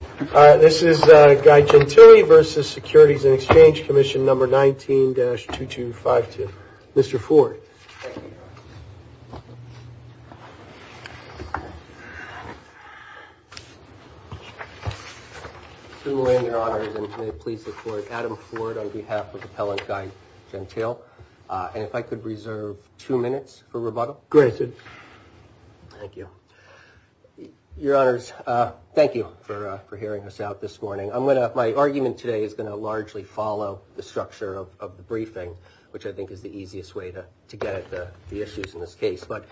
All right, this is Guy Gentile versus Securities and Exchange Commission number 19-2252. Mr. Ford. Thank you. Mr. Moran, Your Honors, and may it please the Court, Adam Ford on behalf of Appellant Guy Gentile. And if I could reserve two minutes for rebuttal. Granted. Thank you. Your Honors, thank you for hearing us out this morning. My argument today is going to largely follow the structure of the briefing, which I think is the easiest way to get at the issues in this case. But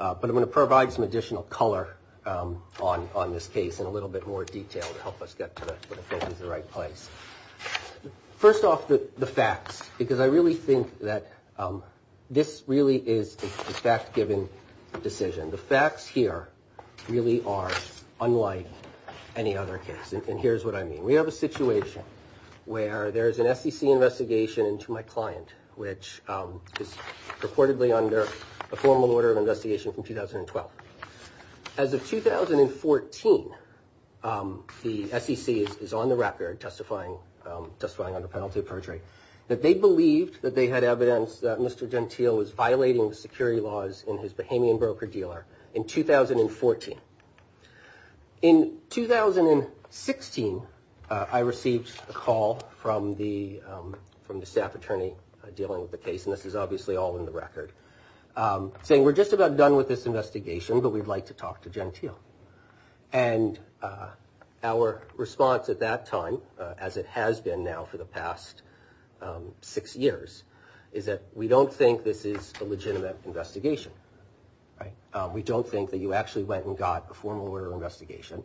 I'm going to provide some additional color on this case in a little bit more detail to help us get to what I think is the right place. First off, the facts, because I really think that this really is a fact-given decision. The facts here really are unlike any other case. And here's what I mean. We have a situation where there is an SEC investigation into my client, which is purportedly under a formal order of investigation from 2012. As of 2014, the SEC is on the record testifying under penalty of perjury that they believed that they had evidence that Mr. Gentile was violating the security laws in his Bahamian broker dealer in 2014. In 2016, I received a call from the staff attorney dealing with the case. And this is obviously all in the record saying we're just about done with this investigation, but we'd like to talk to Gentile. And our response at that time, as it has been now for the past six years, is that we don't think this is a legitimate investigation. We don't think that you actually went and got a formal order of investigation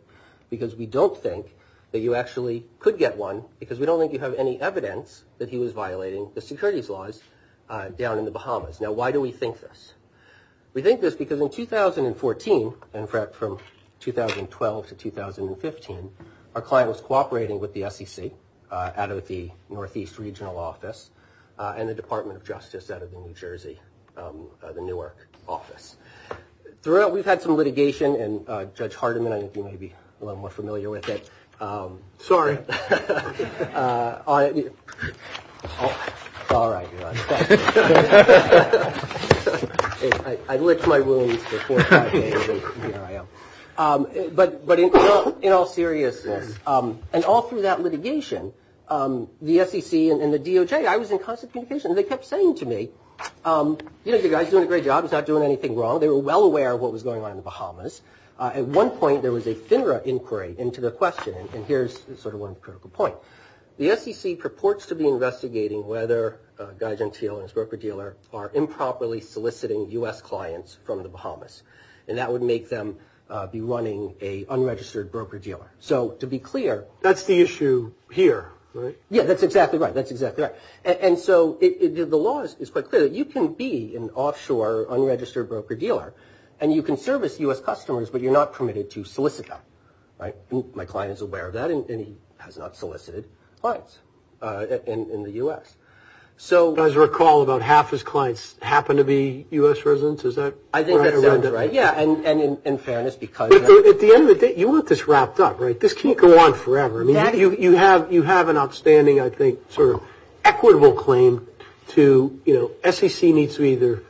because we don't think that you actually could get one because we don't think you have any evidence that he was violating the securities laws. Down in the Bahamas. Now, why do we think this? We think this because in 2014 and from 2012 to 2015, our client was cooperating with the SEC out of the Northeast Regional Office and the Department of Justice out of New Jersey, the Newark office. Throughout, we've had some litigation and Judge Hardiman, I think you may be a little more familiar with it. Sorry. All right. I licked my wounds. But but in all seriousness and all through that litigation, the SEC and the DOJ, I was in constant communication. They kept saying to me, you know, the guy's doing a great job. He's not doing anything wrong. They were well aware of what was going on in the Bahamas. At one point, there was a FINRA inquiry into the question. And here's sort of one critical point. The SEC purports to be investigating whether Guy Gentile and his broker dealer are improperly soliciting U.S. clients from the Bahamas. And that would make them be running a unregistered broker dealer. So to be clear. That's the issue here, right? Yeah, that's exactly right. That's exactly right. And so the law is quite clear. You can be an offshore unregistered broker dealer and you can service U.S. customers, but you're not permitted to solicit them. Right. My client is aware of that and he has not solicited clients in the U.S. So as I recall, about half his clients happen to be U.S. residents. Is that right? I think that's right. Yeah. And in fairness, because at the end of the day, you want this wrapped up, right? This can't go on forever. I mean, you have an outstanding, I think, sort of equitable claim to, you know, SEC needs to either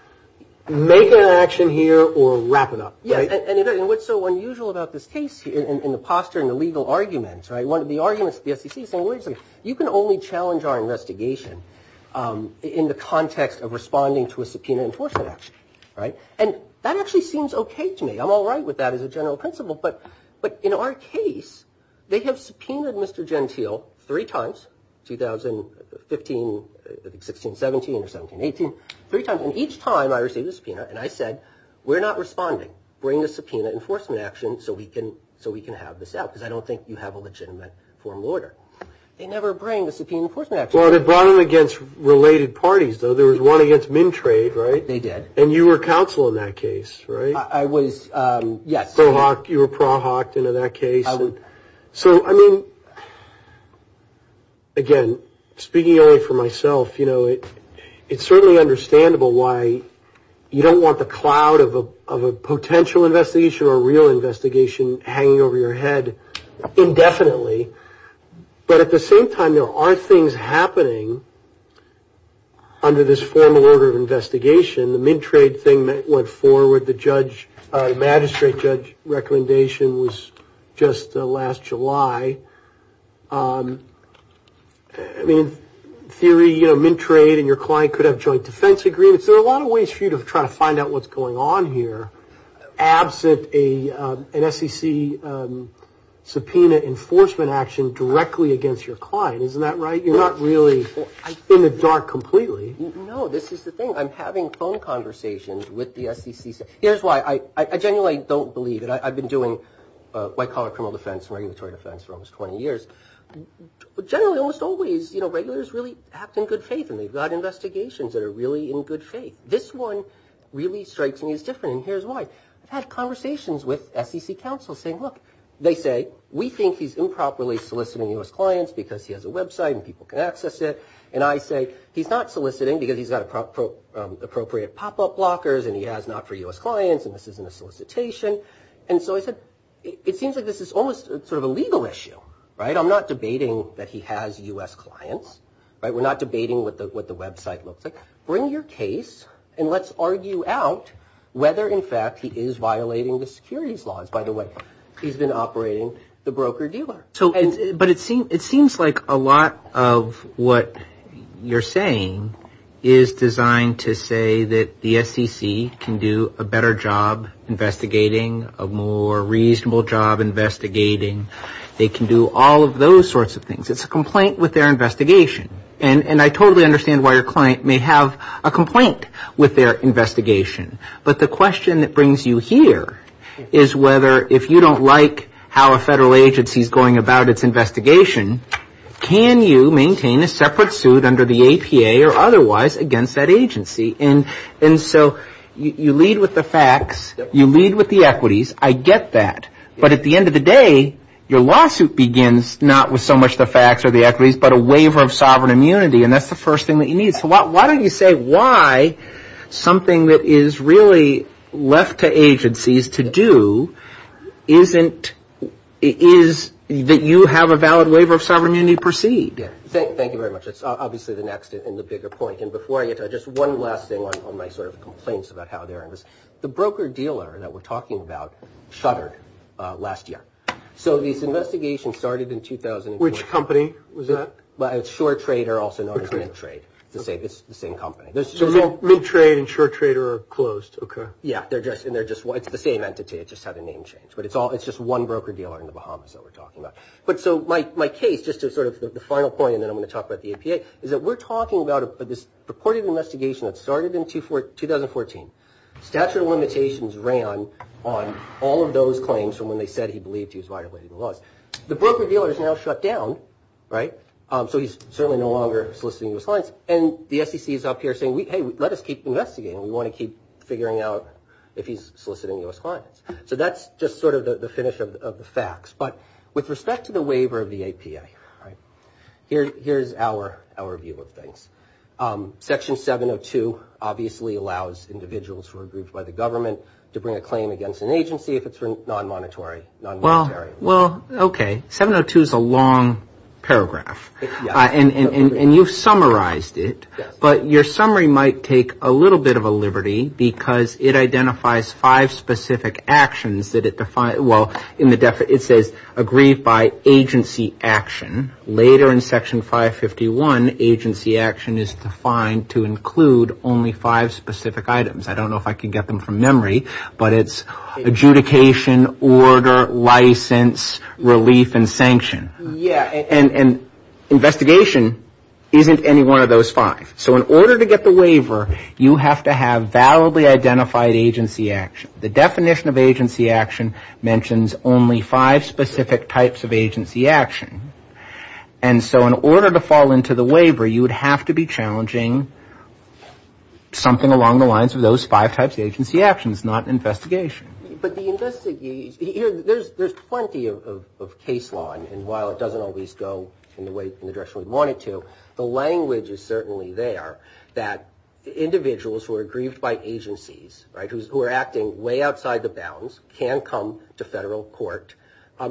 make an action here or wrap it up, right? Yeah. And what's so unusual about this case in the posture and the legal arguments, right, one of the arguments of the SEC is saying, you can only challenge our investigation in the context of responding to a subpoena enforcement action, right? And that actually seems okay to me. I'm all right with that as a general principle. But in our case, they have subpoenaed Mr. Gentile three times, 2015, 16, 17, or 17, 18, three times. And each time I received a subpoena and I said, we're not responding. Bring a subpoena enforcement action so we can have this out because I don't think you have a legitimate formal order. They never bring a subpoena enforcement action. Well, they brought them against related parties, though. There was one against Mintrade, right? They did. And you were counsel in that case, right? I was, yes. You were pro hoc in that case. So, I mean, again, speaking only for myself, you know, it's certainly understandable why you don't want the cloud of a potential investigation or a real investigation hanging over your head indefinitely. But at the same time, there are things happening under this formal order of investigation. The Mintrade thing that went forward, the magistrate judge recommendation was just last July. I mean, in theory, you know, Mintrade and your client could have joint defense agreements. There are a lot of ways for you to try to find out what's going on here, absent an SEC subpoena enforcement action directly against your client. Isn't that right? You're not really in the dark completely. No, this is the thing. I'm having phone conversations with the SEC. Here's why. I genuinely don't believe it. I've been doing white-collar criminal defense and regulatory defense for almost 20 years. Generally, almost always, you know, regulators really act in good faith, and they've got investigations that are really in good faith. This one really strikes me as different, and here's why. I've had conversations with SEC counsel saying, look, they say, we think he's improperly soliciting U.S. clients because he has a website and people can access it. And I say, he's not soliciting because he's got appropriate pop-up blockers and he has not-for-U.S. clients and this isn't a solicitation. And so I said, it seems like this is almost sort of a legal issue, right? I'm not debating that he has U.S. clients. We're not debating what the website looks like. Bring your case, and let's argue out whether, in fact, he is violating the securities laws. By the way, he's been operating the broker-dealer. But it seems like a lot of what you're saying is designed to say that the SEC can do a better job investigating, a more reasonable job investigating. They can do all of those sorts of things. It's a complaint with their investigation. And I totally understand why your client may have a complaint with their investigation. But the question that brings you here is whether if you don't like how a federal agency is going about its investigation, can you maintain a separate suit under the APA or otherwise against that agency? And so you lead with the facts. You lead with the equities. I get that. But at the end of the day, your lawsuit begins not with so much the facts or the equities, but a waiver of sovereign immunity, and that's the first thing that you need. So why don't you say why something that is really left to agencies to do is that you have a valid waiver of sovereign immunity to proceed? Thank you very much. That's obviously the next and the bigger point. And before I get to it, just one last thing on my sort of complaints about how they're in this. The broker-dealer that we're talking about shuttered last year. So this investigation started in 2004. Which company was that? Well, it's SureTrade, also known as Mintrade. It's the same company. So Mintrade and SureTrade are closed. Okay. Yeah. It's the same entity. It just had a name change. But it's just one broker-dealer in the Bahamas that we're talking about. But so my case, just as sort of the final point, and then I'm going to talk about the APA, is that we're talking about this purported investigation that started in 2014. Statute of limitations ran on all of those claims from when they said he believed he was violating the laws. The broker-dealer is now shut down. Right? So he's certainly no longer soliciting U.S. clients. And the SEC is up here saying, hey, let us keep investigating. We want to keep figuring out if he's soliciting U.S. clients. So that's just sort of the finish of the facts. But with respect to the waiver of the APA, here's our view of things. Section 702 obviously allows individuals who are grouped by the government to bring a claim against an agency if it's non-monetary. Well, okay. 702 is a long paragraph. And you've summarized it. But your summary might take a little bit of a liberty because it identifies five specific actions that it defines. Well, it says agreed by agency action. Later in Section 551, agency action is defined to include only five specific items. I don't know if I can get them from memory, but it's adjudication, order, license, relief, and sanction. And investigation isn't any one of those five. So in order to get the waiver, you have to have validly identified agency action. The definition of agency action mentions only five specific types of agency action. And so in order to fall into the waiver, you would have to be challenging something along the lines of those five types of agency actions, not investigation. But the investigation, there's plenty of case law, and while it doesn't always go in the direction we want it to, the language is certainly there that individuals who are grieved by agencies, right, who are acting way outside the bounds, can come to federal court,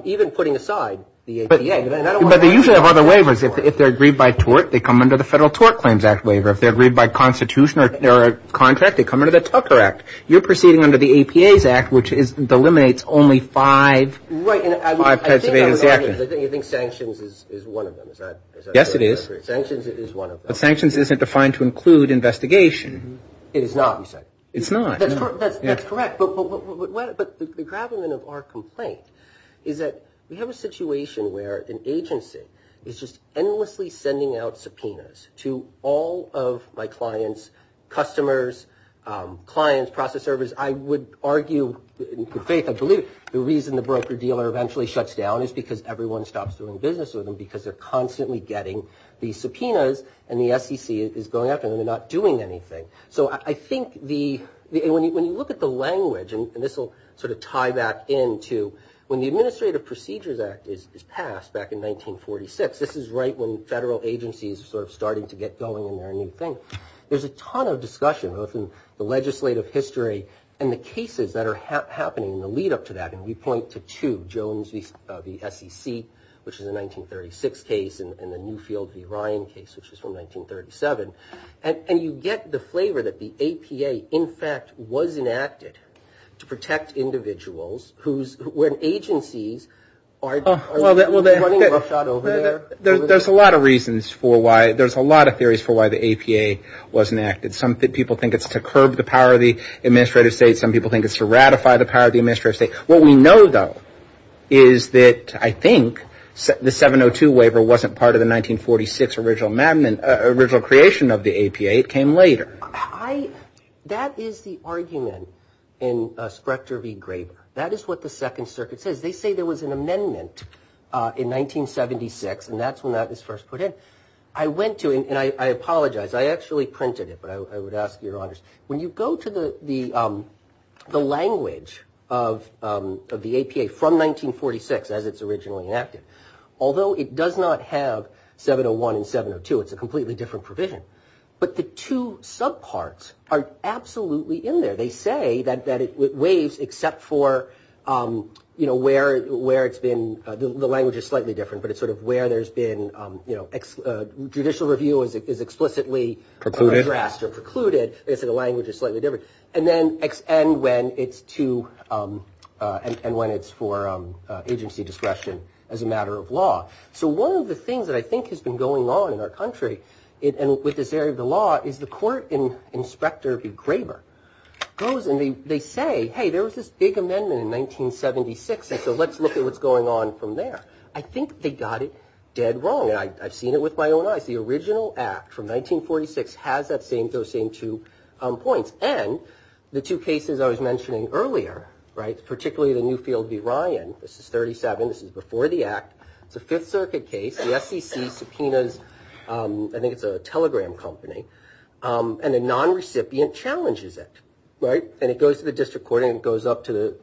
even putting aside the APA. But they usually have other waivers. If they're aggrieved by tort, they come under the Federal Tort Claims Act waiver. If they're aggrieved by constitution or contract, they come under the Tucker Act. You're proceeding under the APA's Act, which delimitates only five types of agency actions. Right, and I think you think sanctions is one of them, is that correct? Yes, it is. Sanctions is one of them. One of the things that we have is that we have a situation where an agency is just endlessly sending out subpoenas to all of my clients, customers, clients, process servers. I would argue, in good faith, I believe the reason the broker-dealer eventually shuts down is because everyone stops doing business with them because they're constantly getting these subpoenas, and the SEC is going after them and not doing anything. So I think when you look at the language, and this will sort of tie back in to when the Administrative Procedures Act is passed back in 1946, this is right when federal agencies are sort of starting to get going and they're a new thing. There's a ton of discussion, both in the legislative history and the cases that are happening in the lead-up to that, and we point to two, Jones v. SEC, which is a 1936 case, and the Newfield v. Ryan case, which was from 1937. And you get the flavor that the APA, in fact, was enacted to protect individuals when agencies are running rush out over there. There's a lot of reasons for why, there's a lot of theories for why the APA was enacted. Some people think it's to curb the power of the administrative state, some people think it's to ratify the power of the administrative state. What we know, though, is that I think the 702 waiver wasn't part of the 1946 original creation of the APA, it came later. That is the argument in Sprechter v. Graeber, that is what the Second Circuit says. They say there was an amendment in 1976, and that's when that was first put in. I went to, and I apologize, I actually printed it, but I would ask your honors. When you go to the language of the APA from 1946, as it's originally enacted, although it does not have 701 and 702, it's a completely different provision, but the two subparts are absolutely in there. They say that it waives except for where it's been, the language is slightly different, but it's sort of where there's been, judicial review is explicitly addressed or precluded, except the language is slightly different, and when it's for agency discretion as a matter of law. So one of the things that I think has been going on in our country with this area of the law is the court in Sprecter v. Graeber. They say, hey, there was this big amendment in 1976, and so let's look at what's going on from there. I think they got it dead wrong, and I've seen it with my own eyes. The original act from 1946 has those same two points, and the two cases I was mentioning earlier, particularly the Newfield v. Ryan, this is 37, this is before the act, it's a Fifth Circuit case, the SEC subpoenas, I think it's a telegram company, and a non-recipient challenges it, and it goes to the district court, and it goes up to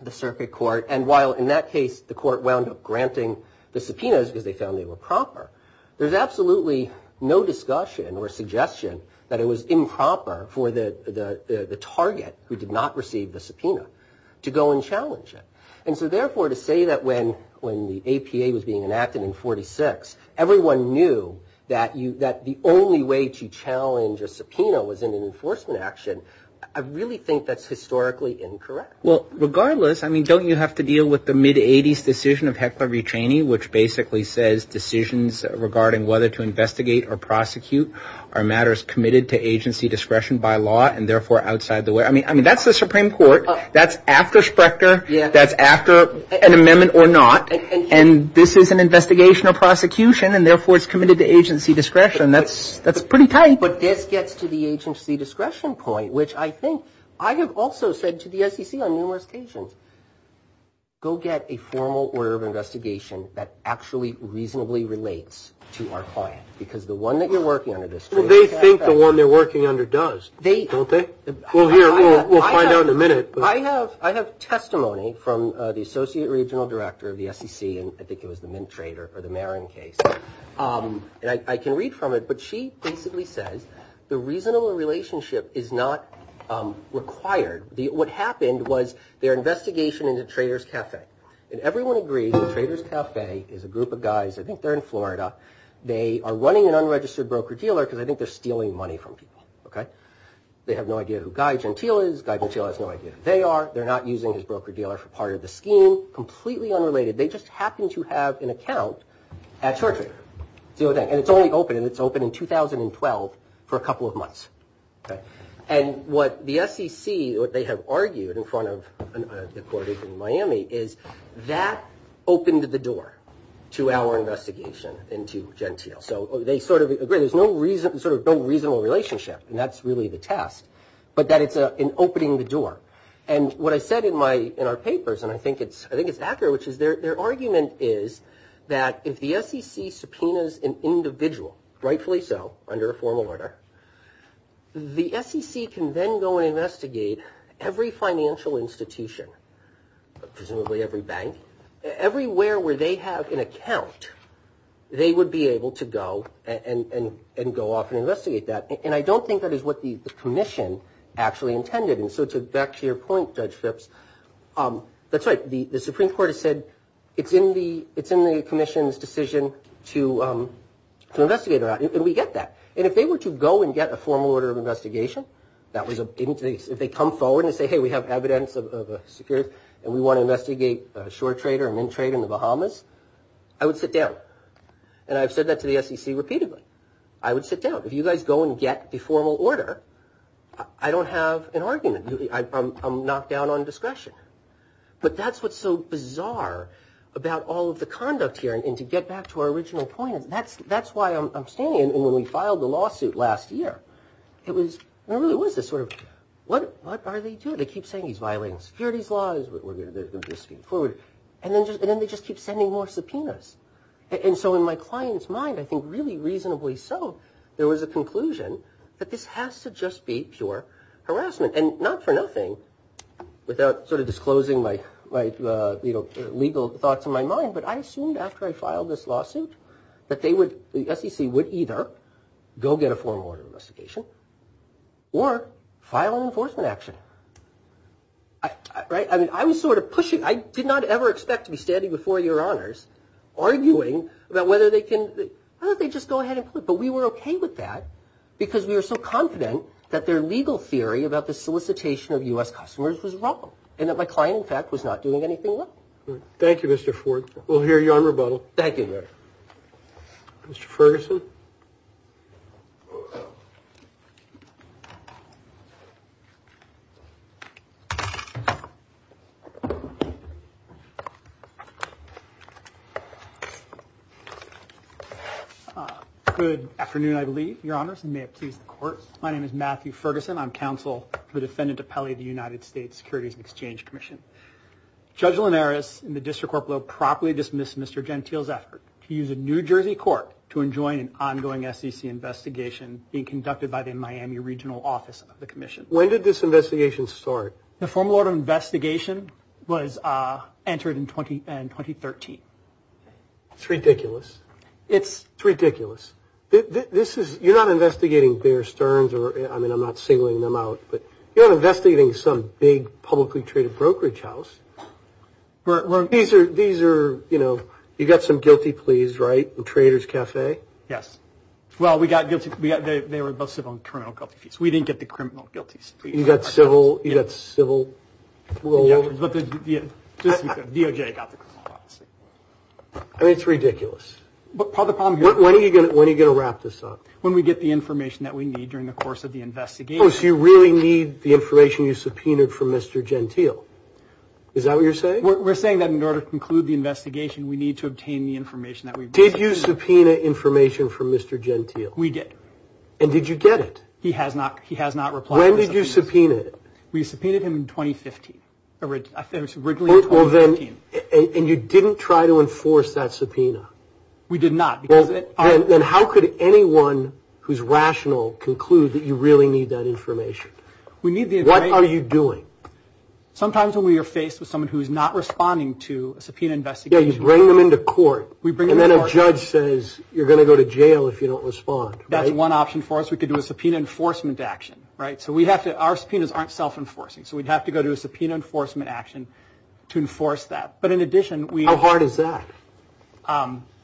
the Circuit Court, and while in that case the court wound up granting the subpoenas because they found they were proper, there's absolutely no discussion or suggestion that it was improper for the target who did not receive the subpoena to go and challenge it. And so therefore to say that when the APA was being enacted in 1946, everyone knew that the only way to challenge a subpoena was in an enforcement action, I really think that's historically incorrect. Well, regardless, I mean, don't you have to deal with the mid-80s decision of Heckler v. Cheney, which basically says decisions regarding whether to investigate or prosecute are matters committed to agency discretion by law, and therefore outside the way, I mean, that's the Supreme Court, that's after Sprechter, that's after an amendment or not, and this is an investigation or prosecution, and therefore it's committed to agency discretion, that's pretty tight. But this gets to the agency discretion point, which I think, I have also said to the SEC on numerous occasions, go get a formal order of investigation that actually reasonably relates to our client, because the one that you're working under this case- Well, they think the one they're working under does, don't they? Well, here, we'll find out in a minute. I have testimony from the Associate Regional Director of the SEC, and I think it was the Mint Trader for the Marin case, and I can read from it, but she basically says the reasonable relationship is not required. What happened was their investigation into Trader's Cafe, and everyone agrees that Trader's Cafe is a group of guys, I think they're in Florida, they are running an unregistered broker-dealer because I think they're stealing money from people. They have no idea who Guy Gentile is, Guy Gentile has no idea who they are, they're not using his broker-dealer for part of the scheme, completely unrelated. They just happen to have an account at Short Trader. And it's only open, and it's open in 2012 for a couple of months. And what the SEC, what they have argued in front of the court in Miami, is that opened the door to our investigation into Gentile. So they sort of agree, there's no reasonable relationship, and that's really the test, but that it's an opening the door. And what I said in our papers, and I think it's accurate, which is their argument is that if the SEC subpoenas an individual, rightfully so, under a formal order, the SEC can then go and investigate every financial institution, presumably every bank, everywhere where they have an account, they would be able to go and go off and investigate that. And I don't think that is what the commission actually intended. And so back to your point, Judge Phipps, that's right, the Supreme Court has said, it's in the commission's decision to investigate that, and we get that. And if they were to go and get a formal order of investigation, if they come forward and say, hey, we have evidence of a security, and we want to investigate Short Trader and Mintrade in the Bahamas, I would sit down. And I've said that to the SEC repeatedly. I would sit down. If you guys go and get the formal order, I don't have an argument. I'm knocked down on discretion. But that's what's so bizarre about all of the conduct here. And to get back to our original point, that's why I'm standing. And when we filed the lawsuit last year, it was, it really was this sort of, what are they doing? They keep saying he's violating securities laws, we're going to go forward. And then they just keep sending more subpoenas. And so in my client's mind, I think really reasonably so, there was a conclusion that this has to just be pure harassment. And not for nothing, without sort of disclosing my legal thoughts in my mind, but I assumed after I filed this lawsuit that they would, the SEC would either go get a formal order of investigation or file an enforcement action. Right. I mean, I was sort of pushing. I did not ever expect to be standing before your honors arguing about whether they can, whether they just go ahead and put. But we were OK with that because we were so confident that their legal theory about the solicitation of U.S. customers was wrong and that my client, in fact, was not doing anything wrong. Thank you, Mr. Ford. We'll hear you on rebuttal. Thank you, Mr. Ferguson. Good afternoon, I believe, your honors, and may it please the court. My name is Matthew Ferguson. I'm counsel, the defendant appellee of the United States Securities and Exchange Commission. Judge Linares and the district corporal properly dismissed Mr. Gentile's effort to use a New Jersey court to enjoin an ongoing SEC investigation being conducted by the Miami regional office of the commission. When did this investigation start? The formal order of investigation was entered in 2013. It's ridiculous. It's ridiculous. This is you're not investigating Bear Stearns or I mean, I'm not singling them out, but you're not investigating some big publicly traded brokerage house. These are these are, you know, you've got some guilty pleas, right? Traders Cafe. Yes. Well, we got guilty. They were both civil and criminal guilty. We didn't get the criminal guilties. You got civil. You got civil. I mean, it's ridiculous. But part of the problem, when are you going to when are you going to wrap this up? When we get the information that we need during the course of the investigation. So you really need the information you subpoenaed for Mr. Gentile. Is that what you're saying? We're saying that in order to conclude the investigation, we need to obtain the information that we did. Did you subpoena information for Mr. Gentile? We did. And did you get it? He has not. He has not replied. When did you subpoena it? We subpoenaed him in 2015. Originally. And you didn't try to enforce that subpoena. We did not. Then how could anyone who's rational conclude that you really need that information? What are you doing? Sometimes when we are faced with someone who is not responding to a subpoena investigation. Yeah, you bring them into court. And then a judge says you're going to go to jail if you don't respond. That's one option for us. We could do a subpoena enforcement action. So we have to our subpoenas aren't self-enforcing. So we'd have to go to a subpoena enforcement action to enforce that. But in addition, we How hard is that?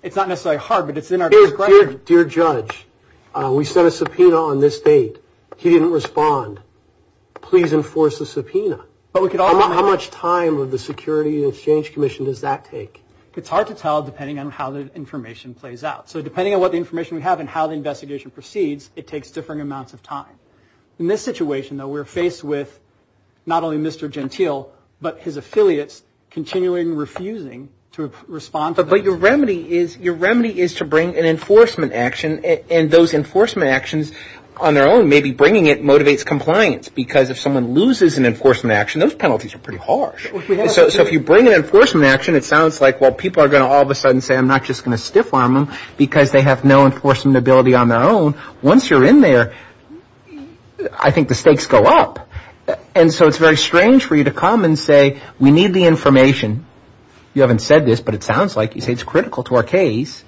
It's not necessarily hard, but it's in our discretion. Dear Judge, we sent a subpoena on this date. He didn't respond. Please enforce the subpoena. How much time of the Security and Exchange Commission does that take? It's hard to tell depending on how the information plays out. So depending on what information we have and how the investigation proceeds, it takes differing amounts of time. In this situation, though, we're faced with not only Mr. Gentile, but his affiliates continuing refusing to respond. But your remedy is to bring an enforcement action. And those enforcement actions on their own, maybe bringing it motivates compliance. Because if someone loses an enforcement action, those penalties are pretty harsh. So if you bring an enforcement action, it sounds like, well, people are going to all of a sudden say, I'm not just going to stiff-arm them because they have no enforcement ability on their own. Once you're in there, I think the stakes go up. And so it's very strange for you to come and say, we need the information. You haven't said this, but it sounds like you say it's critical to our case.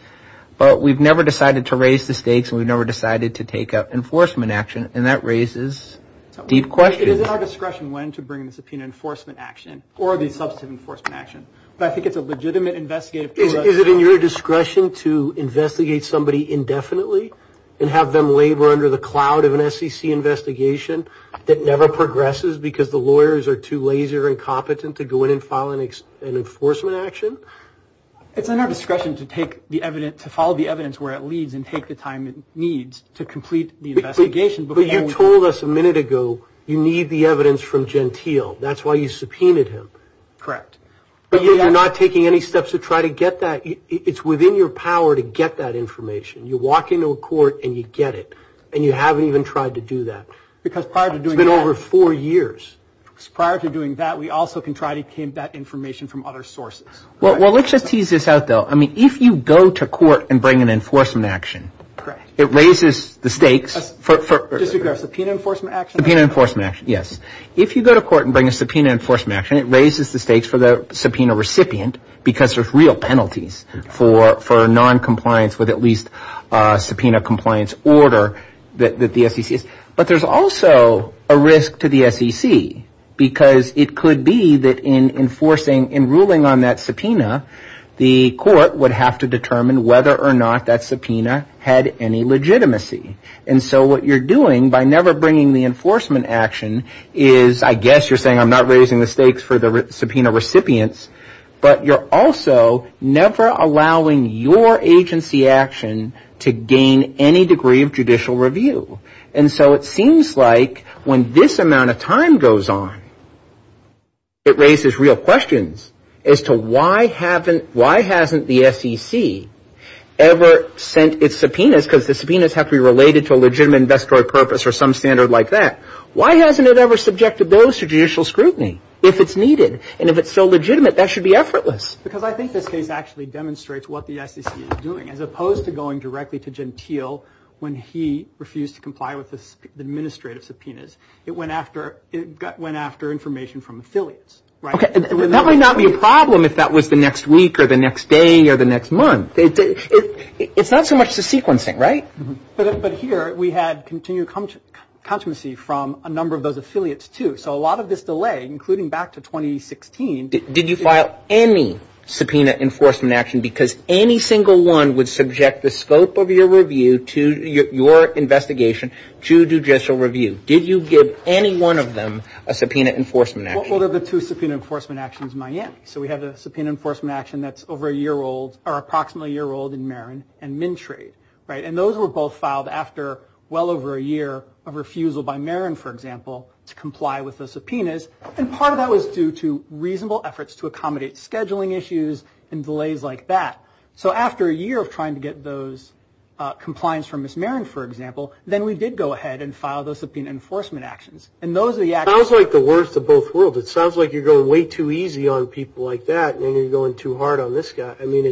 But we've never decided to raise the stakes, and we've never decided to take an enforcement action. And that raises deep questions. It is at our discretion when to bring a subpoena enforcement action or the substantive enforcement action. But I think it's a legitimate investigative tool. Is it in your discretion to investigate somebody indefinitely and have them labor under the cloud of an SEC investigation that never progresses because the lawyers are too lazy or incompetent to go in and file an enforcement action? It's in our discretion to follow the evidence where it leads and take the time it needs to complete the investigation. But you told us a minute ago you need the evidence from Gentile. That's why you subpoenaed him. Correct. But yet you're not taking any steps to try to get that. It's within your power to get that information. You walk into a court and you get it, and you haven't even tried to do that. Because prior to doing that. It's been over four years. Prior to doing that, we also can try to get that information from other sources. Well, let's just tease this out, though. I mean, if you go to court and bring an enforcement action, it raises the stakes for... Disagree. Subpoena enforcement action. Subpoena enforcement action, yes. If you go to court and bring a subpoena enforcement action, it raises the stakes for the subpoena recipient because there's real penalties for noncompliance with at least a subpoena compliance order that the SEC. But there's also a risk to the SEC because it could be that in enforcing, in ruling on that subpoena, the court would have to determine whether or not that subpoena had any legitimacy. And so what you're doing by never bringing the enforcement action is, I guess you're saying I'm not raising the stakes for the subpoena recipients, but you're also never allowing your agency action to gain any degree of judicial review. And so it seems like when this amount of time goes on, it raises real questions as to why hasn't the SEC ever sent its subpoenas, because the subpoenas have to be related to a legitimate investor purpose or some standard like that. Why hasn't it ever subjected those to judicial scrutiny if it's needed? And if it's so legitimate, that should be effortless. Because I think this case actually demonstrates what the SEC is doing. As opposed to going directly to Gentile when he refused to comply with the administrative subpoenas, it went after information from affiliates. That might not be a problem if that was the next week or the next day or the next month. It's not so much the sequencing, right? But here we had continued controversy from a number of those affiliates too. So a lot of this delay, including back to 2016. Did you file any subpoena enforcement action? Because any single one would subject the scope of your investigation to judicial review. Did you give any one of them a subpoena enforcement action? What were the two subpoena enforcement actions in Miami? So we have the subpoena enforcement action that's over a year old or approximately a year old in Marin and Mintrade. And those were both filed after well over a year of refusal by Marin, for example, to comply with the subpoenas. And part of that was due to reasonable efforts to accommodate scheduling issues and delays like that. So after a year of trying to get those compliance from Miss Marin, for example, then we did go ahead and file those subpoena enforcement actions. And those are the actions. It sounds like the worst of both worlds. It sounds like you're going way too easy on people like that and then you're going too hard on this guy. I mean,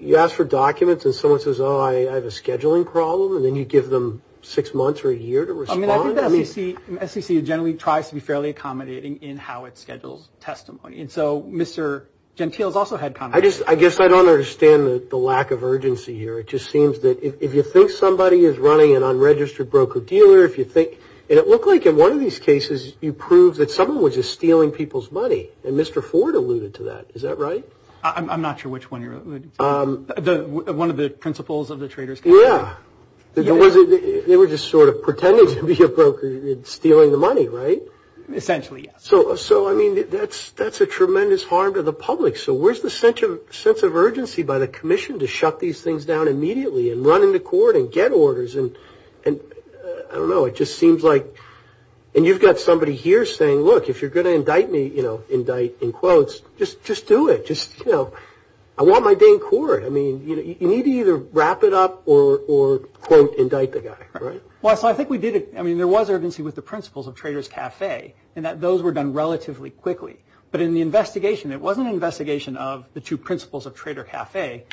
you ask for documents and someone says, oh, I have a scheduling problem, and then you give them six months or a year to respond. I mean, I think the SEC generally tries to be fairly accommodating in how it schedules testimony. And so Mr. Gentile has also had comments. I guess I don't understand the lack of urgency here. It just seems that if you think somebody is running an unregistered broker-dealer, if you think – and it looked like in one of these cases you proved that someone was just stealing people's money, and Mr. Ford alluded to that. Is that right? I'm not sure which one you're alluding to. One of the principles of the Trader's Guide. Yeah. They were just sort of pretending to be a broker and stealing the money, right? Essentially, yes. So, I mean, that's a tremendous harm to the public. So where's the sense of urgency by the commission to shut these things down immediately and run into court and get orders? And, I don't know, it just seems like – and you've got somebody here saying, look, if you're going to indict me, you know, indict in quotes, just do it. Just, you know, I want my day in court. I mean, you need to either wrap it up or, quote, indict the guy, right? Well, so I think we did – I mean, there was urgency with the principles of Trader's Cafe in that those were done relatively quickly. But in the investigation, it wasn't an investigation of the two principles of Trader Cafe.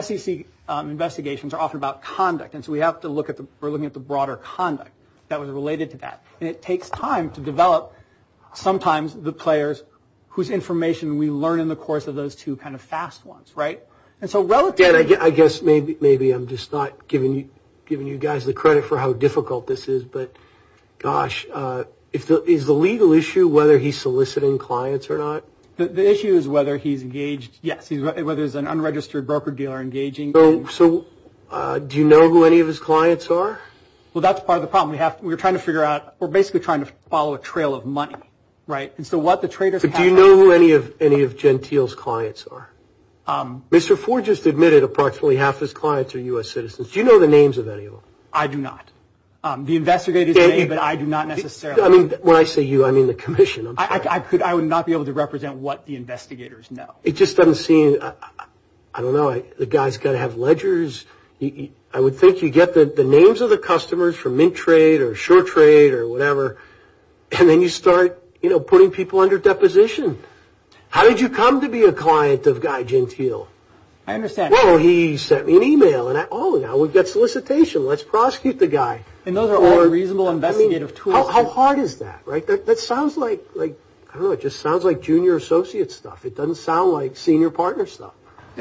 SEC investigations are often about conduct, and so we have to look at the – we're looking at the broader conduct that was related to that. And it takes time to develop sometimes the players whose information we learn in the course of those two kind of fast ones, right? And so relatively – And I guess maybe I'm just not giving you guys the credit for how difficult this is, but, gosh, is the legal issue whether he's soliciting clients or not? The issue is whether he's engaged – yes, whether it's an unregistered broker-dealer engaging. So do you know who any of his clients are? Well, that's part of the problem. We're trying to figure out – we're basically trying to follow a trail of money, right? And so what the Trader's Cafe – But do you know who any of Gentile's clients are? Mr. Ford just admitted approximately half his clients are U.S. citizens. Do you know the names of any of them? I do not. The investigators may, but I do not necessarily. I mean, when I say you, I mean the commission. I could – I would not be able to represent what the investigators know. It just doesn't seem – I don't know. The guy's got to have ledgers. I would think you get the names of the customers from Mintrade or Shortrade or whatever, and then you start, you know, putting people under deposition. How did you come to be a client of Guy Gentile? I understand. Well, he sent me an email, and I – oh, now we've got solicitation. Let's prosecute the guy. And those are all reasonable investigative tools. How hard is that, right? That sounds like – I don't know. It just sounds like junior associate stuff. It doesn't sound like senior partner stuff.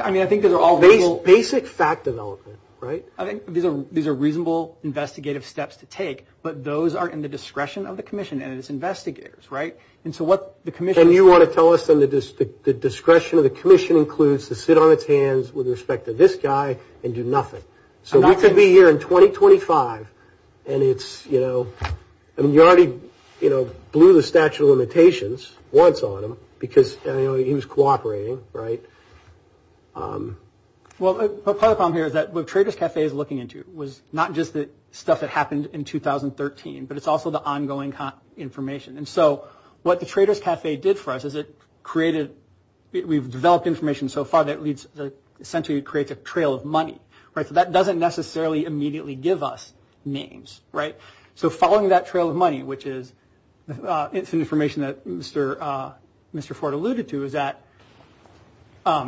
I mean, I think those are all – Basic fact development, right? I think these are reasonable investigative steps to take, but those are in the discretion of the commission and its investigators, right? And so what the commission – And you want to tell us then the discretion of the commission includes to sit on its hands with respect to this guy and do nothing. So we could be here in 2025, and it's, you know – I mean, you already, you know, blew the statute of limitations once on him because, you know, he was cooperating, right? Well, part of the problem here is that what Traders Cafe is looking into was not just the stuff that happened in 2013, but it's also the ongoing information. And so what the Traders Cafe did for us is it created – we've developed information so far that essentially creates a trail of money, right? So that doesn't necessarily immediately give us names, right? So following that trail of money, which is – it's an information that Mr. Ford alluded to, is that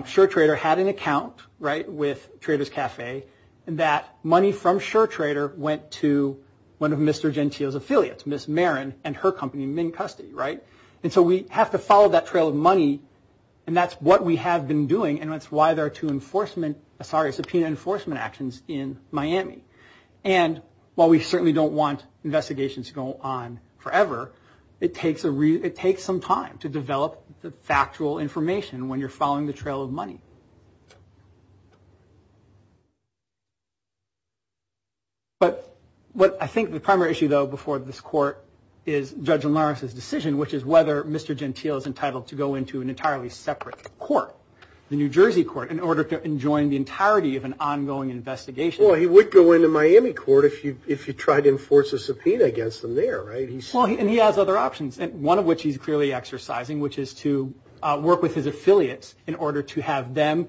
Sure Trader had an account, right, with Traders Cafe, and that money from Sure Trader went to one of Mr. Gentile's affiliates, Miss Marin, and her company, Mink Custody, right? And so we have to follow that trail of money, and that's what we have been doing, and that's why there are two enforcement – sorry, subpoena enforcement actions in Miami. And while we certainly don't want investigations to go on forever, it takes some time to develop the factual information when you're following the trail of money. But what I think the primary issue, though, before this court is Judge Lawrence's decision, which is whether Mr. Gentile is entitled to go into an entirely separate court, the New Jersey court, in order to enjoin the entirety of an ongoing investigation. Well, he would go into Miami court if he tried to enforce a subpoena against them there, right? And he has other options, one of which he's clearly exercising, which is to work with his affiliates in order to have them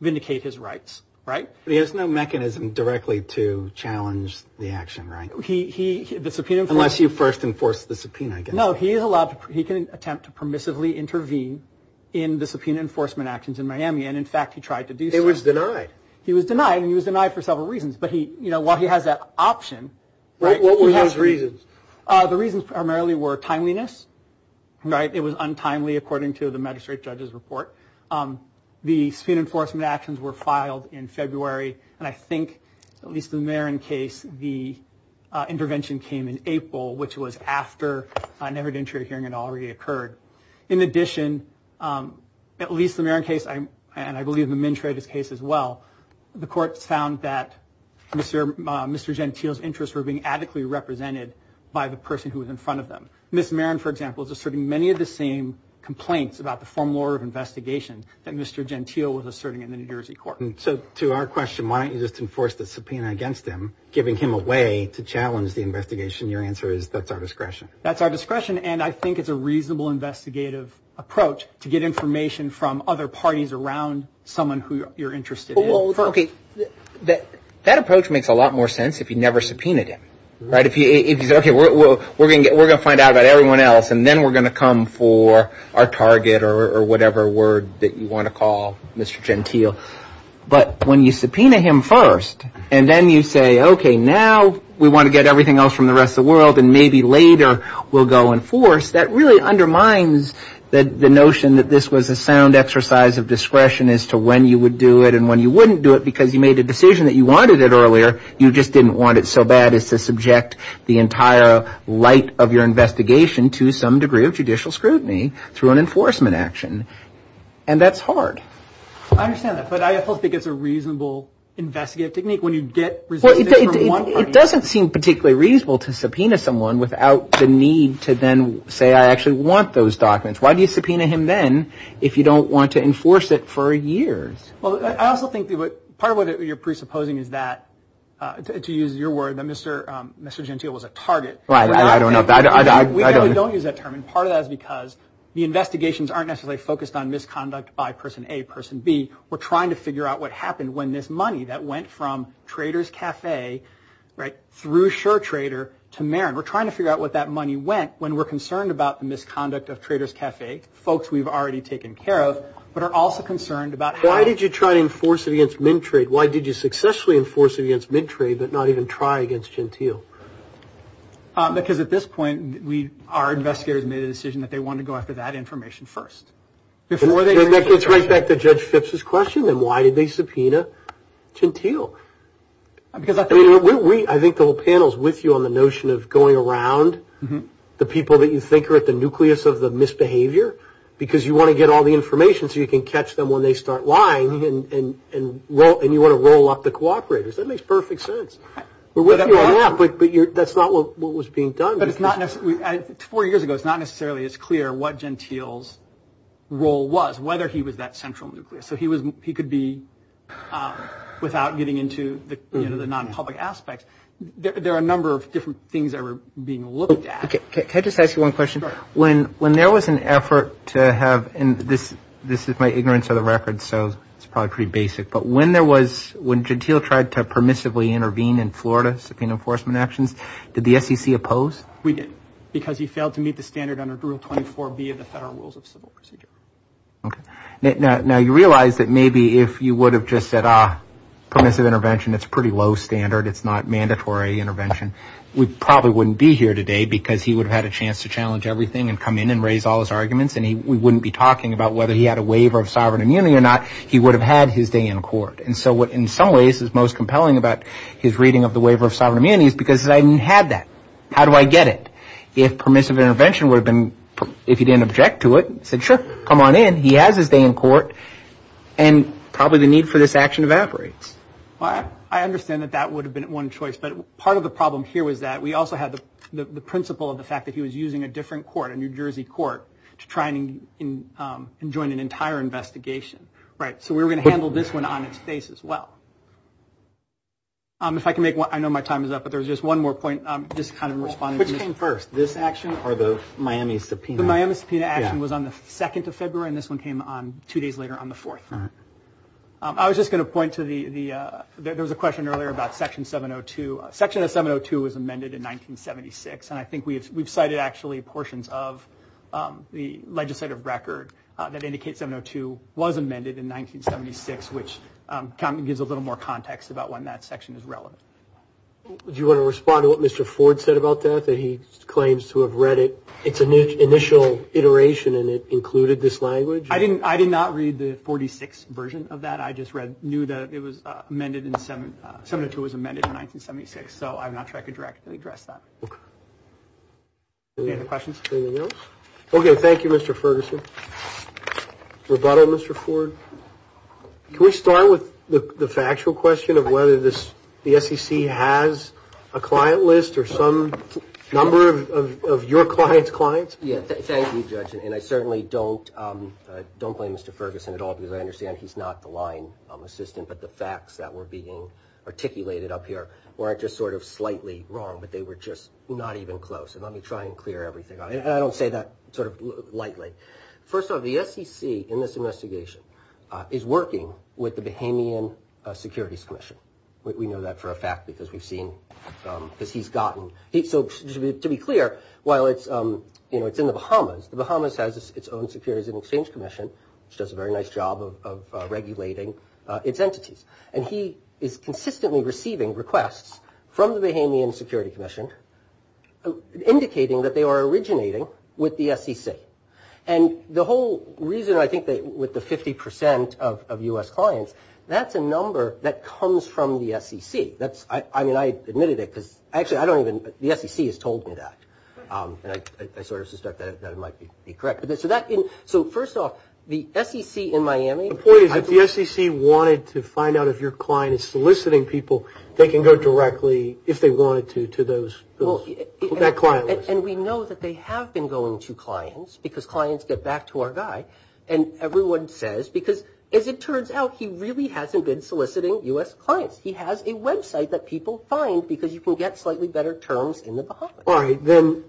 vindicate his rights, right? But he has no mechanism directly to challenge the action, right? He – the subpoena – Unless you first enforce the subpoena against him. No, he is allowed – he can attempt to permissively intervene in the subpoena enforcement actions in Miami, and in fact he tried to do so. He was denied. He was denied, and he was denied for several reasons, but he – you know, while he has that option – What were those reasons? The reasons primarily were timeliness, right? It was untimely, according to the magistrate judge's report. The subpoena enforcement actions were filed in February, and I think, at least in the Marin case, the intervention came in April, which was after an evidentiary hearing had already occurred. In addition, at least in the Marin case, and I believe in the Mintreatis case as well, the courts found that Mr. Gentile's interests were being adequately represented by the person who was in front of them. Ms. Marin, for example, is asserting many of the same complaints about the former investigation that Mr. Gentile was asserting in the New Jersey court. So, to our question, why don't you just enforce the subpoena against him, giving him a way to challenge the investigation? Your answer is, that's our discretion. That's our discretion, and I think it's a reasonable investigative approach to get information from other parties around someone who you're interested in. Okay, that approach makes a lot more sense if you never subpoenaed him, right? If you say, okay, we're going to find out about everyone else, and then we're going to come for our target or whatever word that you want to call Mr. Gentile. But when you subpoena him first, and then you say, okay, now we want to get everything else from the rest of the world, and maybe later we'll go and force, that really undermines the notion that this was a sound exercise of discretion as to when you would do it and when you wouldn't do it, because you made a decision that you wanted it earlier, you just didn't want it so bad as to subject the entire light of your investigation to some degree of judicial scrutiny through an enforcement action. And that's hard. I understand that, but I also think it's a reasonable investigative technique when you get results from one party. It doesn't seem particularly reasonable to subpoena someone without the need to then say, I actually want those documents. Why do you subpoena him then if you don't want to enforce it for years? Well, I also think part of what you're presupposing is that, to use your word, that Mr. Gentile was a target. Right, I don't know. We don't use that term, and part of that is because the investigations aren't necessarily focused on misconduct by person A, person B. We're trying to figure out what happened when this money that went from Trader's Cafe, right, through Sure Trader to Marin. We're trying to figure out what that money went when we're concerned about the misconduct of Trader's Cafe, folks we've already taken care of, but are also concerned about how... Why did you try to enforce it against Mintrade? Why did you successfully enforce it against Mintrade but not even try against Gentile? Because at this point, our investigators made a decision that they wanted to go after that information first. It gets right back to Judge Phipps' question, then why did they subpoena Gentile? I think the whole panel is with you on the notion of going around the people that you think are at the nucleus of the misbehavior because you want to get all the information so you can catch them when they start lying, and you want to roll up the cooperators. That makes perfect sense. We're with you on that, but that's not what was being done. Four years ago, it's not necessarily as clear what Gentile's role was, whether he was that central nucleus. So he could be, without getting into the non-public aspects, there are a number of different things that were being looked at. Can I just ask you one question? Sure. When there was an effort to have, and this is my ignorance of the record, so it's probably pretty basic, but when Gentile tried to permissively intervene in Florida subpoena enforcement actions, did the SEC oppose? We did, because he failed to meet the standard under Rule 24B of the Federal Rules of Civil Procedure. Okay. Now, you realize that maybe if you would have just said, ah, permissive intervention, it's a pretty low standard, it's not mandatory intervention, we probably wouldn't be here today because he would have had a chance to challenge everything and come in and raise all his arguments, and we wouldn't be talking about whether he had a waiver of sovereign immunity or not, he would have had his day in court. And so what in some ways is most compelling about his reading of the waiver of sovereign immunity is because he said, I didn't have that. How do I get it? If permissive intervention would have been, if he didn't object to it, said, sure, come on in, he has his day in court, and probably the need for this action evaporates. Well, I understand that that would have been one choice, but part of the problem here was that we also had the principle of the fact that he was using a different court, a New Jersey court, to try and join an entire investigation. So we were going to handle this one on its face as well. If I can make one, I know my time is up, but there's just one more point, just kind of responding. Which came first, this action or the Miami subpoena? The Miami subpoena action was on the 2nd of February, and this one came on, two days later, on the 4th. I was just going to point to the, there was a question earlier about Section 702. Section of 702 was amended in 1976, and I think we've cited actually portions of the legislative record that indicate 702 was amended in 1976, which kind of gives a little more context about when that section is relevant. Do you want to respond to what Mr. Ford said about that, that he claims to have read it, its initial iteration, and it included this language? I did not read the 46 version of that. I just knew that it was amended in, 702 was amended in 1976, so I'm not sure I could directly address that. Okay. Any other questions? Anything else? Okay, thank you, Mr. Ferguson. Rebuttal, Mr. Ford? Can we start with the factual question of whether this, the SEC has a client list or some number of your client's clients? Yeah, thank you, Judge, and I certainly don't, don't blame Mr. Ferguson at all, because I understand he's not the line assistant, but the facts that were being articulated up here weren't just sort of slightly wrong, but they were just not even close, and let me try and clear everything, and I don't say that sort of lightly. First off, the SEC in this investigation is working with the Bahamian Securities Commission. We know that for a fact because we've seen, because he's gotten, so to be clear, while it's in the Bahamas, the Bahamas has its own Securities and Exchange Commission, which does a very nice job of regulating its entities, and he is consistently receiving requests from the Bahamian Securities Commission indicating that they are originating with the SEC, and the whole reason I think that with the 50% of U.S. clients, that's a number that comes from the SEC. That's, I mean, I admitted it because, actually, I don't even, the SEC has told me that, and I sort of suspect that it might be correct, but so that, so first off, the SEC in Miami, The point is that the SEC wanted to find out if your client is soliciting people, they can go directly, if they wanted to, to those, that client list. And we know that they have been going to clients, because clients get back to our guy, and everyone says, because as it turns out, he really hasn't been soliciting U.S. clients. He has a website that people find because you can get slightly better terms in the Bahamas. All right, then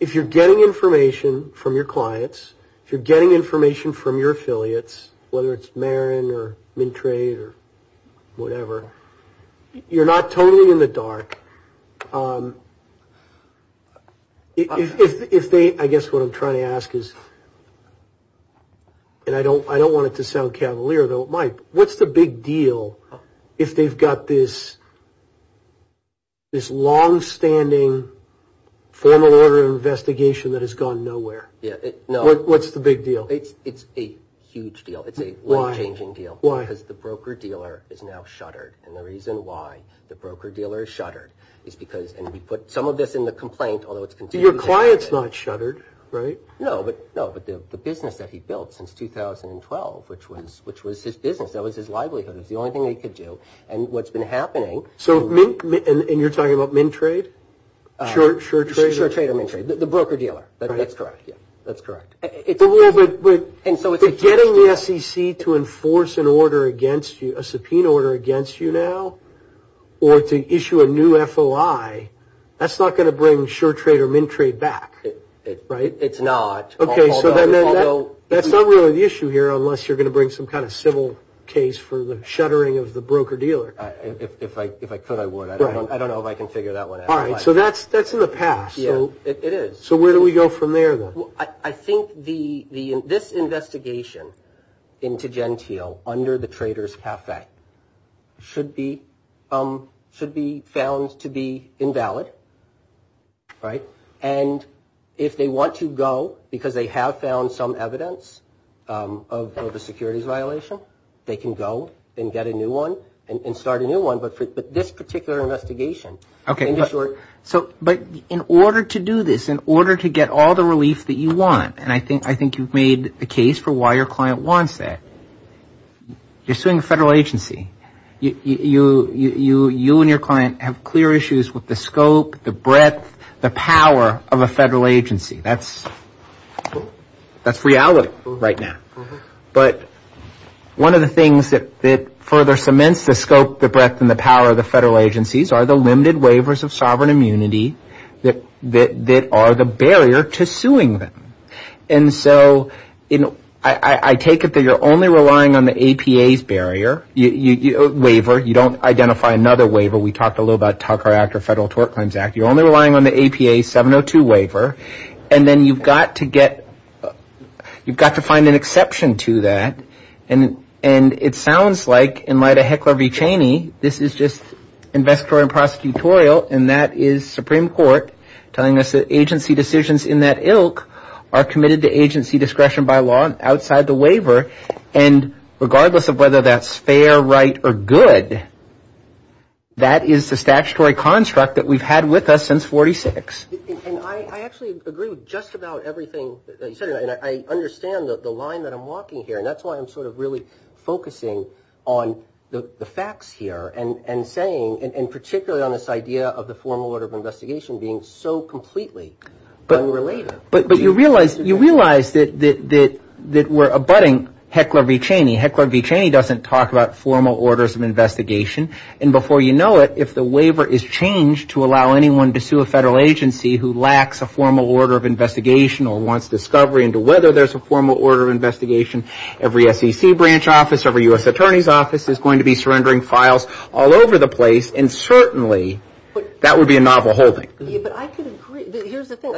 if you're getting information from your clients, if you're getting information from your affiliates, whether it's Marin, or Mintrade, or whatever, you're not totally in the dark. If they, I guess what I'm trying to ask is, and I don't want it to sound cavalier, though it might, what's the big deal if they've got this, this long-standing formal order of investigation that has gone nowhere? What's the big deal? It's a huge deal. It's a life-changing deal. Why? Because the broker-dealer is now shuttered, and the reason why the broker-dealer is shuttered is because, and we put some of this in the complaint, although it's continued. Your client's not shuttered, right? No, but the business that he built since 2012, which was his business, that was his livelihood, it was the only thing that he could do, and what's been happening. So, and you're talking about Mintrade, SureTrade? SureTrade and Mintrade, the broker-dealer. That's correct, yeah, that's correct. But getting the SEC to enforce an order against you, a subpoena order against you now, or to issue a new FOI, that's not going to bring SureTrade or Mintrade back, right? It's not. Okay, so then that's not really the issue here unless you're going to bring some kind of civil case for the shuttering of the broker-dealer. If I could, I would. I don't know if I can figure that one out. All right, so that's in the past. Yeah, it is. So where do we go from there then? I think this investigation into Genteel under the Traders Cafe should be found to be invalid, right? And if they want to go because they have found some evidence of a securities violation, they can go and get a new one and start a new one, but in order to do this, in order to get all the information that you need to get the information that you need to get the information that you need to get all the relief that you want, and I think you've made the case for why your client wants that. You're suing a federal agency. You and your client have clear issues with the scope, the breadth, the power of a federal agency. That's reality right now, but one of the things the scope, the breadth, and the power of the federal agencies are the limited waivers of sovereign immunity that are the barrier to suing a federal agency. And I think you're suing them. And so I take it that you're only relying on the APA's barrier, waiver. You don't identify another waiver. We talked a little about Tucker Act or Federal Tort Claims Act. You're only relying on the APA 702 waiver, and then you've got to get, you've got to find an exception to that, and it sounds like in light of Heckler v. Cheney, this is just investigatory and prosecutorial, and that is Supreme Court telling us that agency decisions in that ilk are committed to agency discretion by law outside the waiver, and regardless of whether that's fair, right, or good, that is the statutory construct that we've had with us since 46. And I actually agree with just about everything that you said, and I understand the line that I'm walking here, and that's why I'm sort of really focusing on the facts here and saying, and particularly on this idea of the formal order of investigation being so completely unrelated. But you realize that we're abutting Heckler v. Cheney. Heckler v. Cheney doesn't talk about formal orders of investigation, and before you know it, if the waiver is changed to allow anyone to sue a federal agency who lacks a formal order of investigation or wants discovery into whether there's a formal order of investigation, every SEC branch office, every U.S. Attorney's office is going to be surrendering files all over the place, and certainly that would be a novel holding. Yeah, but I could agree. Here's the thing.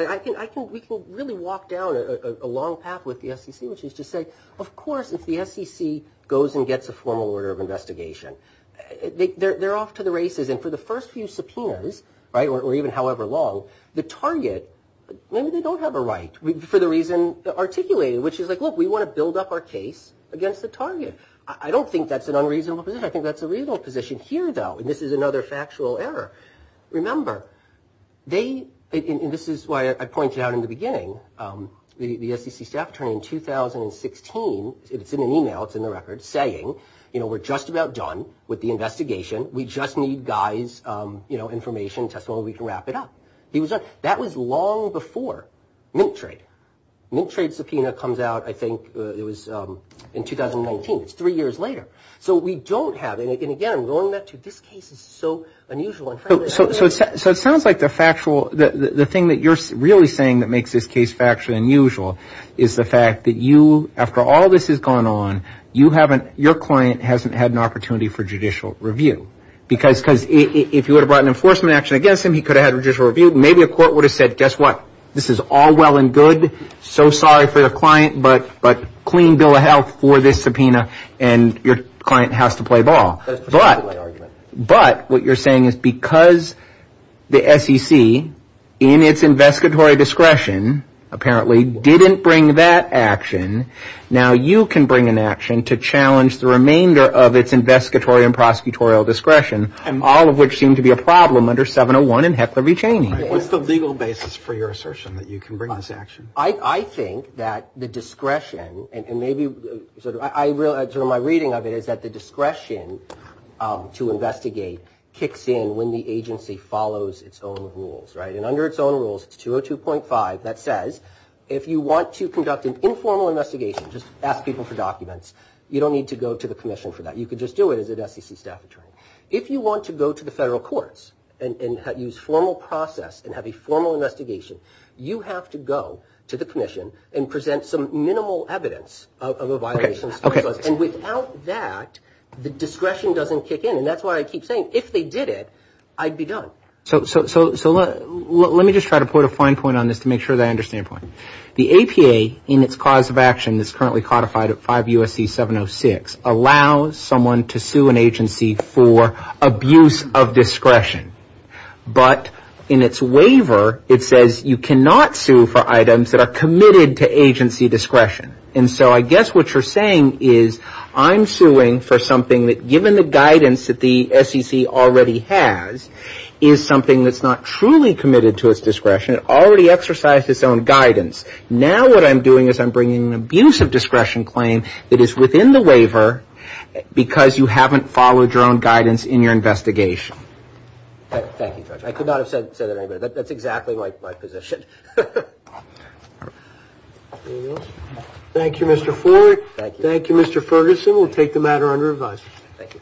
We can really walk down a long path with the SEC, which is to say, of course, if the SEC goes and gets a formal order of investigation, they're off to the races, and for the first few subpoenas, or even however long, the target, maybe they don't have a right for the reason articulated, which is like, look, we want to build up our case against the target. I don't think that's an unreasonable position. I think that's a reasonable position here, though, and this is another factual error. Remember, they, and this is why I pointed out in the beginning, the SEC staff attorney in 2016, it's in an email, it's in the record, saying, you know, we're just about done with the investigation. We just need guys, you know, information, testimony, we can wrap it up. That was long before mink trade. Mink trade subpoena comes out, I think, in 2019. It's three years later. So we don't have, and again, I'm going back to, this case is so unusual. So it sounds like the factual, the thing that you're really saying that makes this case factually unusual is the fact that you, after all this has gone on, you haven't, your client hasn't had an opportunity for judicial review because if you would have brought an enforcement action against him, he could have had judicial review. Maybe a court would have said, guess what? This is all well and good. So sorry for the client, but clean bill of health for this subpoena and your client has to play ball. But what you're saying is because the SEC in its investigatory discretion apparently didn't bring that action, now you can bring an action to challenge the remainder of its investigatory and and heckler v. Cheney. What's the legal basis for that? Well, the legal basis for that is that the S.E.C. doesn't have the discretion to bring this action. So what's the basis for your assertion that you can bring this action? I think that the discretion and maybe sort of my reading of it is that the discretion to investigate kicks in when the agency follows its own rules, right? And under its own rules, it's 202.5 that says if you want to conduct an informal investigation, just ask people for documents, you don't need to go to the commission for that. You can just do it as an S.E.C. staff attorney. If you want to go to the federal courts and use formal process and have a formal investigation, you have to go to the commission and present some minimal evidence of a violation. Okay. Okay. And without that, the discretion doesn't kick in and that's why I keep saying if they did it, I'd be done. So, let me just try to put a fine point on this to make sure that I understand. The APA in its cause of action is currently codified at 5 U.S.C. 706 allows someone to sue an agency for abuse of discretion. But, in its waiver, it says you cannot sue for items that are committed to agency discretion. And so, I guess what you're saying is I'm suing for something that given the guidance that the S.E.C. already has is something that's not truly committed to its discretion. It already exercised its own guidance. Now, what I'm doing is I'm bringing an abuse of discretion claim that is within the waiver because you haven't followed your own guidance in your investigation. Thank you, Judge. I could not have said that any better. That's exactly my position. There you go. Thank you, Mr. Ford. Thank you. Thank you, Mr. Ferguson. We'll take the matter under review. Thank you.